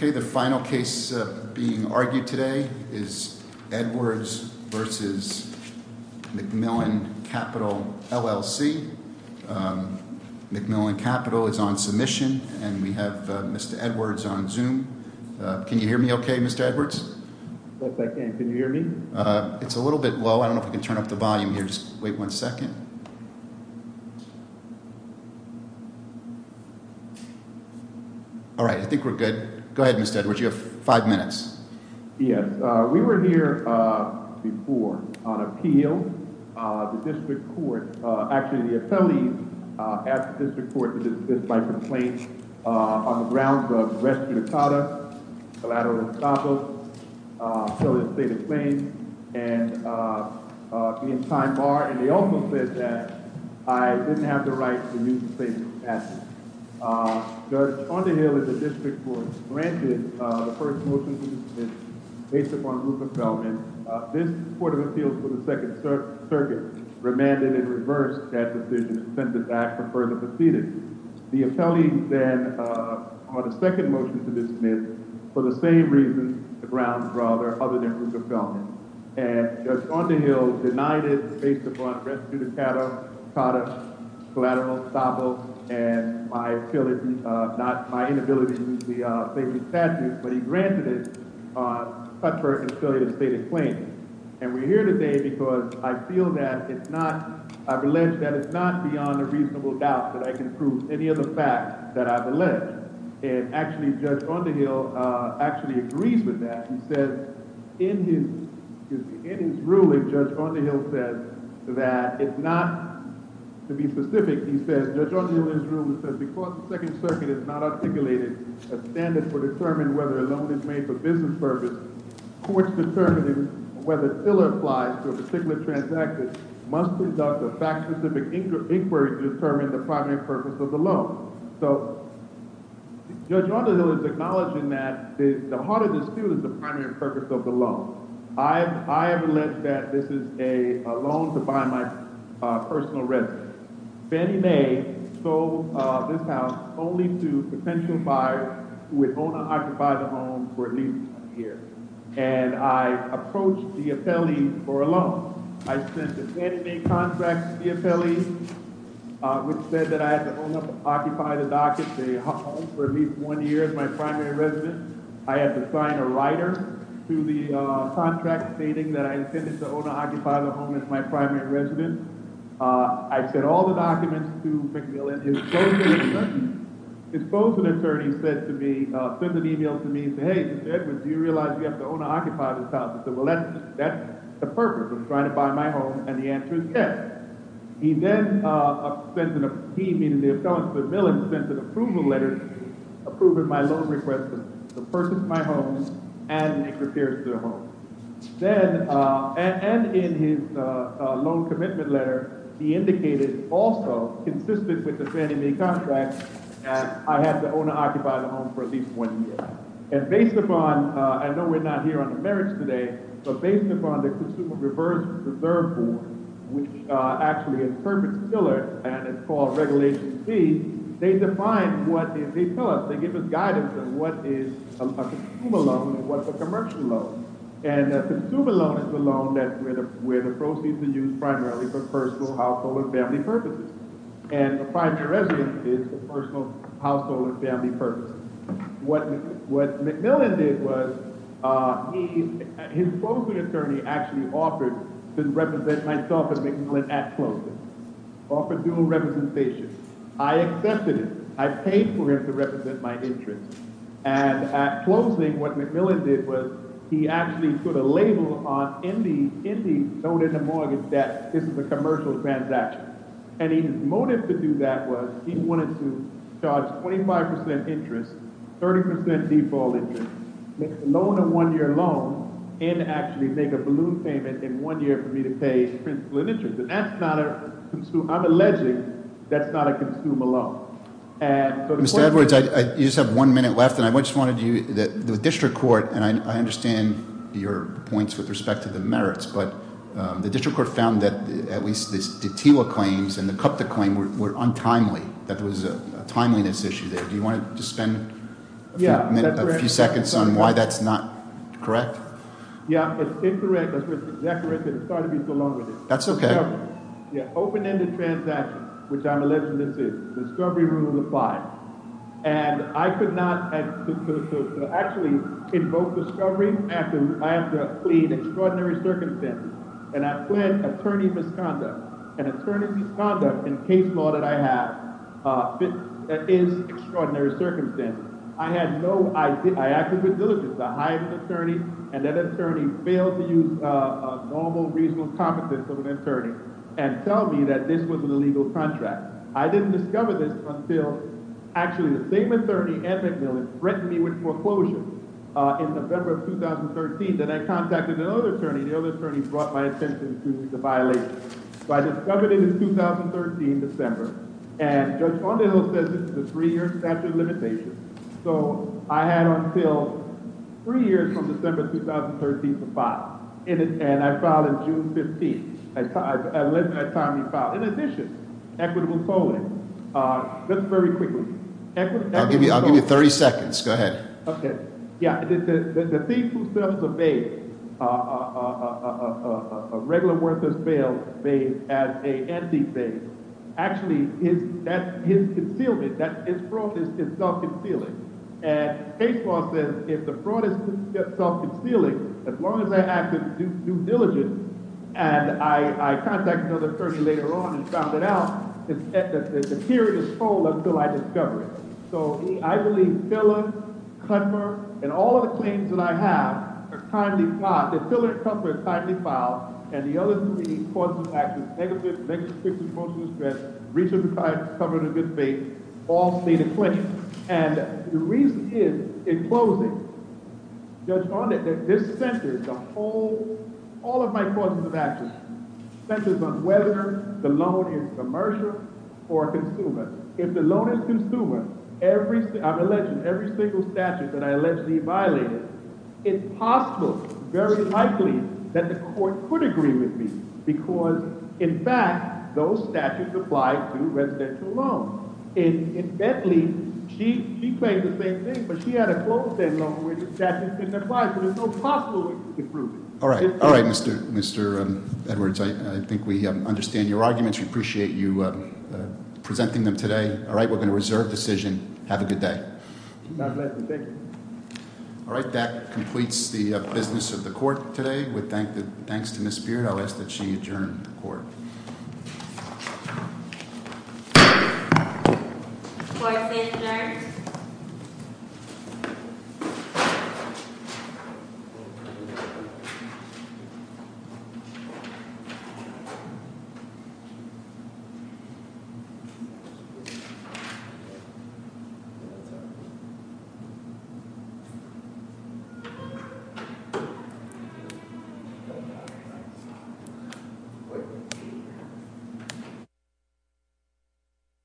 The final case being argued today is Edwards v. McMillen Capital, LLC McMillen Capital is on submission and we have Mr. Edwards on Zoom Can you hear me okay, Mr. Edwards? Looks like I can. Can you hear me? It's a little bit low. I don't know if we can turn up the volume here. Just wait one second. All right, I think we're good. Go ahead, Mr. Edwards. You have five minutes. Yes, we were here before on appeal. The district court, actually the appellees, asked the district court to dismiss my complaint on the grounds of arrest to the collar, collateral to the collar, felonious state of claims, and being time barred. And they also said that I didn't have the right to use the state's assets. Judge Underhill of the district court granted the first motion to dismiss based upon group appellant. This court of appeals for the Second Circuit remanded and reversed that decision and sent it back for further proceedings. The appellees then brought a second motion to dismiss for the same reasons, the grounds rather, other than group appellant. And Judge Underhill denied it based upon arrest to the collar, collateral, felonious state of claims, and my inability to use the state's assets, but he granted it. And we're here today because I feel that it's not, I've alleged that it's not beyond a reasonable doubt that I can prove any of the facts that I've alleged. And actually, Judge Underhill actually agrees with that. He says in his ruling, Judge Underhill says that it's not, to be specific, he says, Judge Underhill in his ruling says, because the Second Circuit has not articulated a standard for determining whether a loan is made for business purpose, courts determining whether it still applies to a particular transacted must conduct a fact-specific inquiry to determine the primary purpose of the loan. So Judge Underhill is acknowledging that the heart of the suit is the primary purpose of the loan. I have alleged that this is a loan to buy my personal residence. Fannie Mae sold this house only to potential buyers who would own and occupy the home for at least a year. And I approached the appellee for a loan. I sent a Fannie Mae contract to the appellee, which said that I had to own and occupy the docket, the home, for at least one year as my primary residence. I had to sign a writer to the contract stating that I intended to own and occupy the home as my primary residence. I sent all the documents to McMillan. And his closing attorney sent an email to me saying, hey, Mr. Edwards, do you realize you have to own and occupy this house? I said, well, that's the purpose of trying to buy my home. And the answer is yes. He then sent an—he, meaning the appellant to McMillan—sent an approval letter approving my loan request to purchase my home and make repairs to the home. And in his loan commitment letter, he indicated also, consistent with the Fannie Mae contract, that I had to own and occupy the home for at least one year. And based upon—I know we're not here on the merits today, but based upon the Consumer Reverse Reserve Board, which actually interprets pillars, and it's called Regulation C, they define what—they tell us, they give us guidance on what is a consumer loan and what's a commercial loan. And a consumer loan is a loan where the proceeds are used primarily for personal, household, and family purposes. And a primary residence is for personal, household, and family purposes. What McMillan did was, his closing attorney actually offered to represent myself and McMillan at closing. Offered dual representation. I accepted it. I paid for him to represent my interest. And at closing, what McMillan did was, he actually put a label on, in the loan and the mortgage, that this is a commercial transaction. And his motive to do that was, he wanted to charge 25 percent interest, 30 percent default interest, make the loan a one-year loan, and actually make a balloon payment in one year for me to pay principal and interest. And that's not a—I'm alleging that's not a consumer loan. Mr. Edwards, you just have one minute left, and I just wanted you—the district court, and I understand your points with respect to the merits, but the district court found that at least the TILA claims and the CUPTA claim were untimely. That there was a timeliness issue there. Do you want to just spend a few seconds on why that's not correct? Yeah, it's incorrect. It's starting to be so long. That's OK. Open-ended transactions, which I'm alleging this is. Discovery rule of five. And I could not actually invoke discovery after I have to plead extraordinary circumstances. And I pled attorney misconduct. And attorney misconduct in case law that I have is extraordinary circumstances. I had no—I acted with diligence. I hired an attorney, and that attorney failed to use normal, reasonable competence of an attorney and tell me that this was an illegal contract. I didn't discover this until actually the same attorney, Ed McMillan, threatened me with foreclosure in November of 2013. Then I contacted another attorney, and the other attorney brought my attention to the violation. So I discovered it in 2013, December. And Judge Vonderhill says this is a three-year statute of limitations. So I had until three years from December 2013 to file. And I filed in June 15th. I let that attorney file. In addition, equitable tolling. Just very quickly. I'll give you 30 seconds. Go ahead. OK. Yeah. The thief who thefts a bail, a regular worthless bail made as a empty bail, actually his concealment, his fraud is self-concealing. And case law says if the fraud is self-concealing, as long as I act with due diligence, and I contacted another attorney later on and found it out, the period is full until I discover it. So I believe filler, cover, and all of the claims that I have are timely filed. The filler and cover are timely filed. And the other three, causes of action, negative, negative, restrictive, most of the threats, reach of the client, cover of the good faith, all state a claim. And the reason is, in closing, Judge Vonderhill, that this centers the whole, all of my causes of action, centers on whether the loan is commercial or consumer. If the loan is consumer, every single statute that I allegedly violated, it's possible, very likely, that the court could agree with me. Because, in fact, those statutes apply to residential loans. In Bentley, she claimed the same thing, but she had a closed end loan where the statute didn't apply. So there's no possible way to prove it. All right. All right, Mr. Edwards. I think we understand your arguments. We appreciate you presenting them today. All right. We're going to reserve decision. Have a good day. My pleasure. Thank you. All right. That completes the business of the court today. Thanks to Ms. Beard. I'll ask that she adjourn the court. Court is adjourned. Thank you.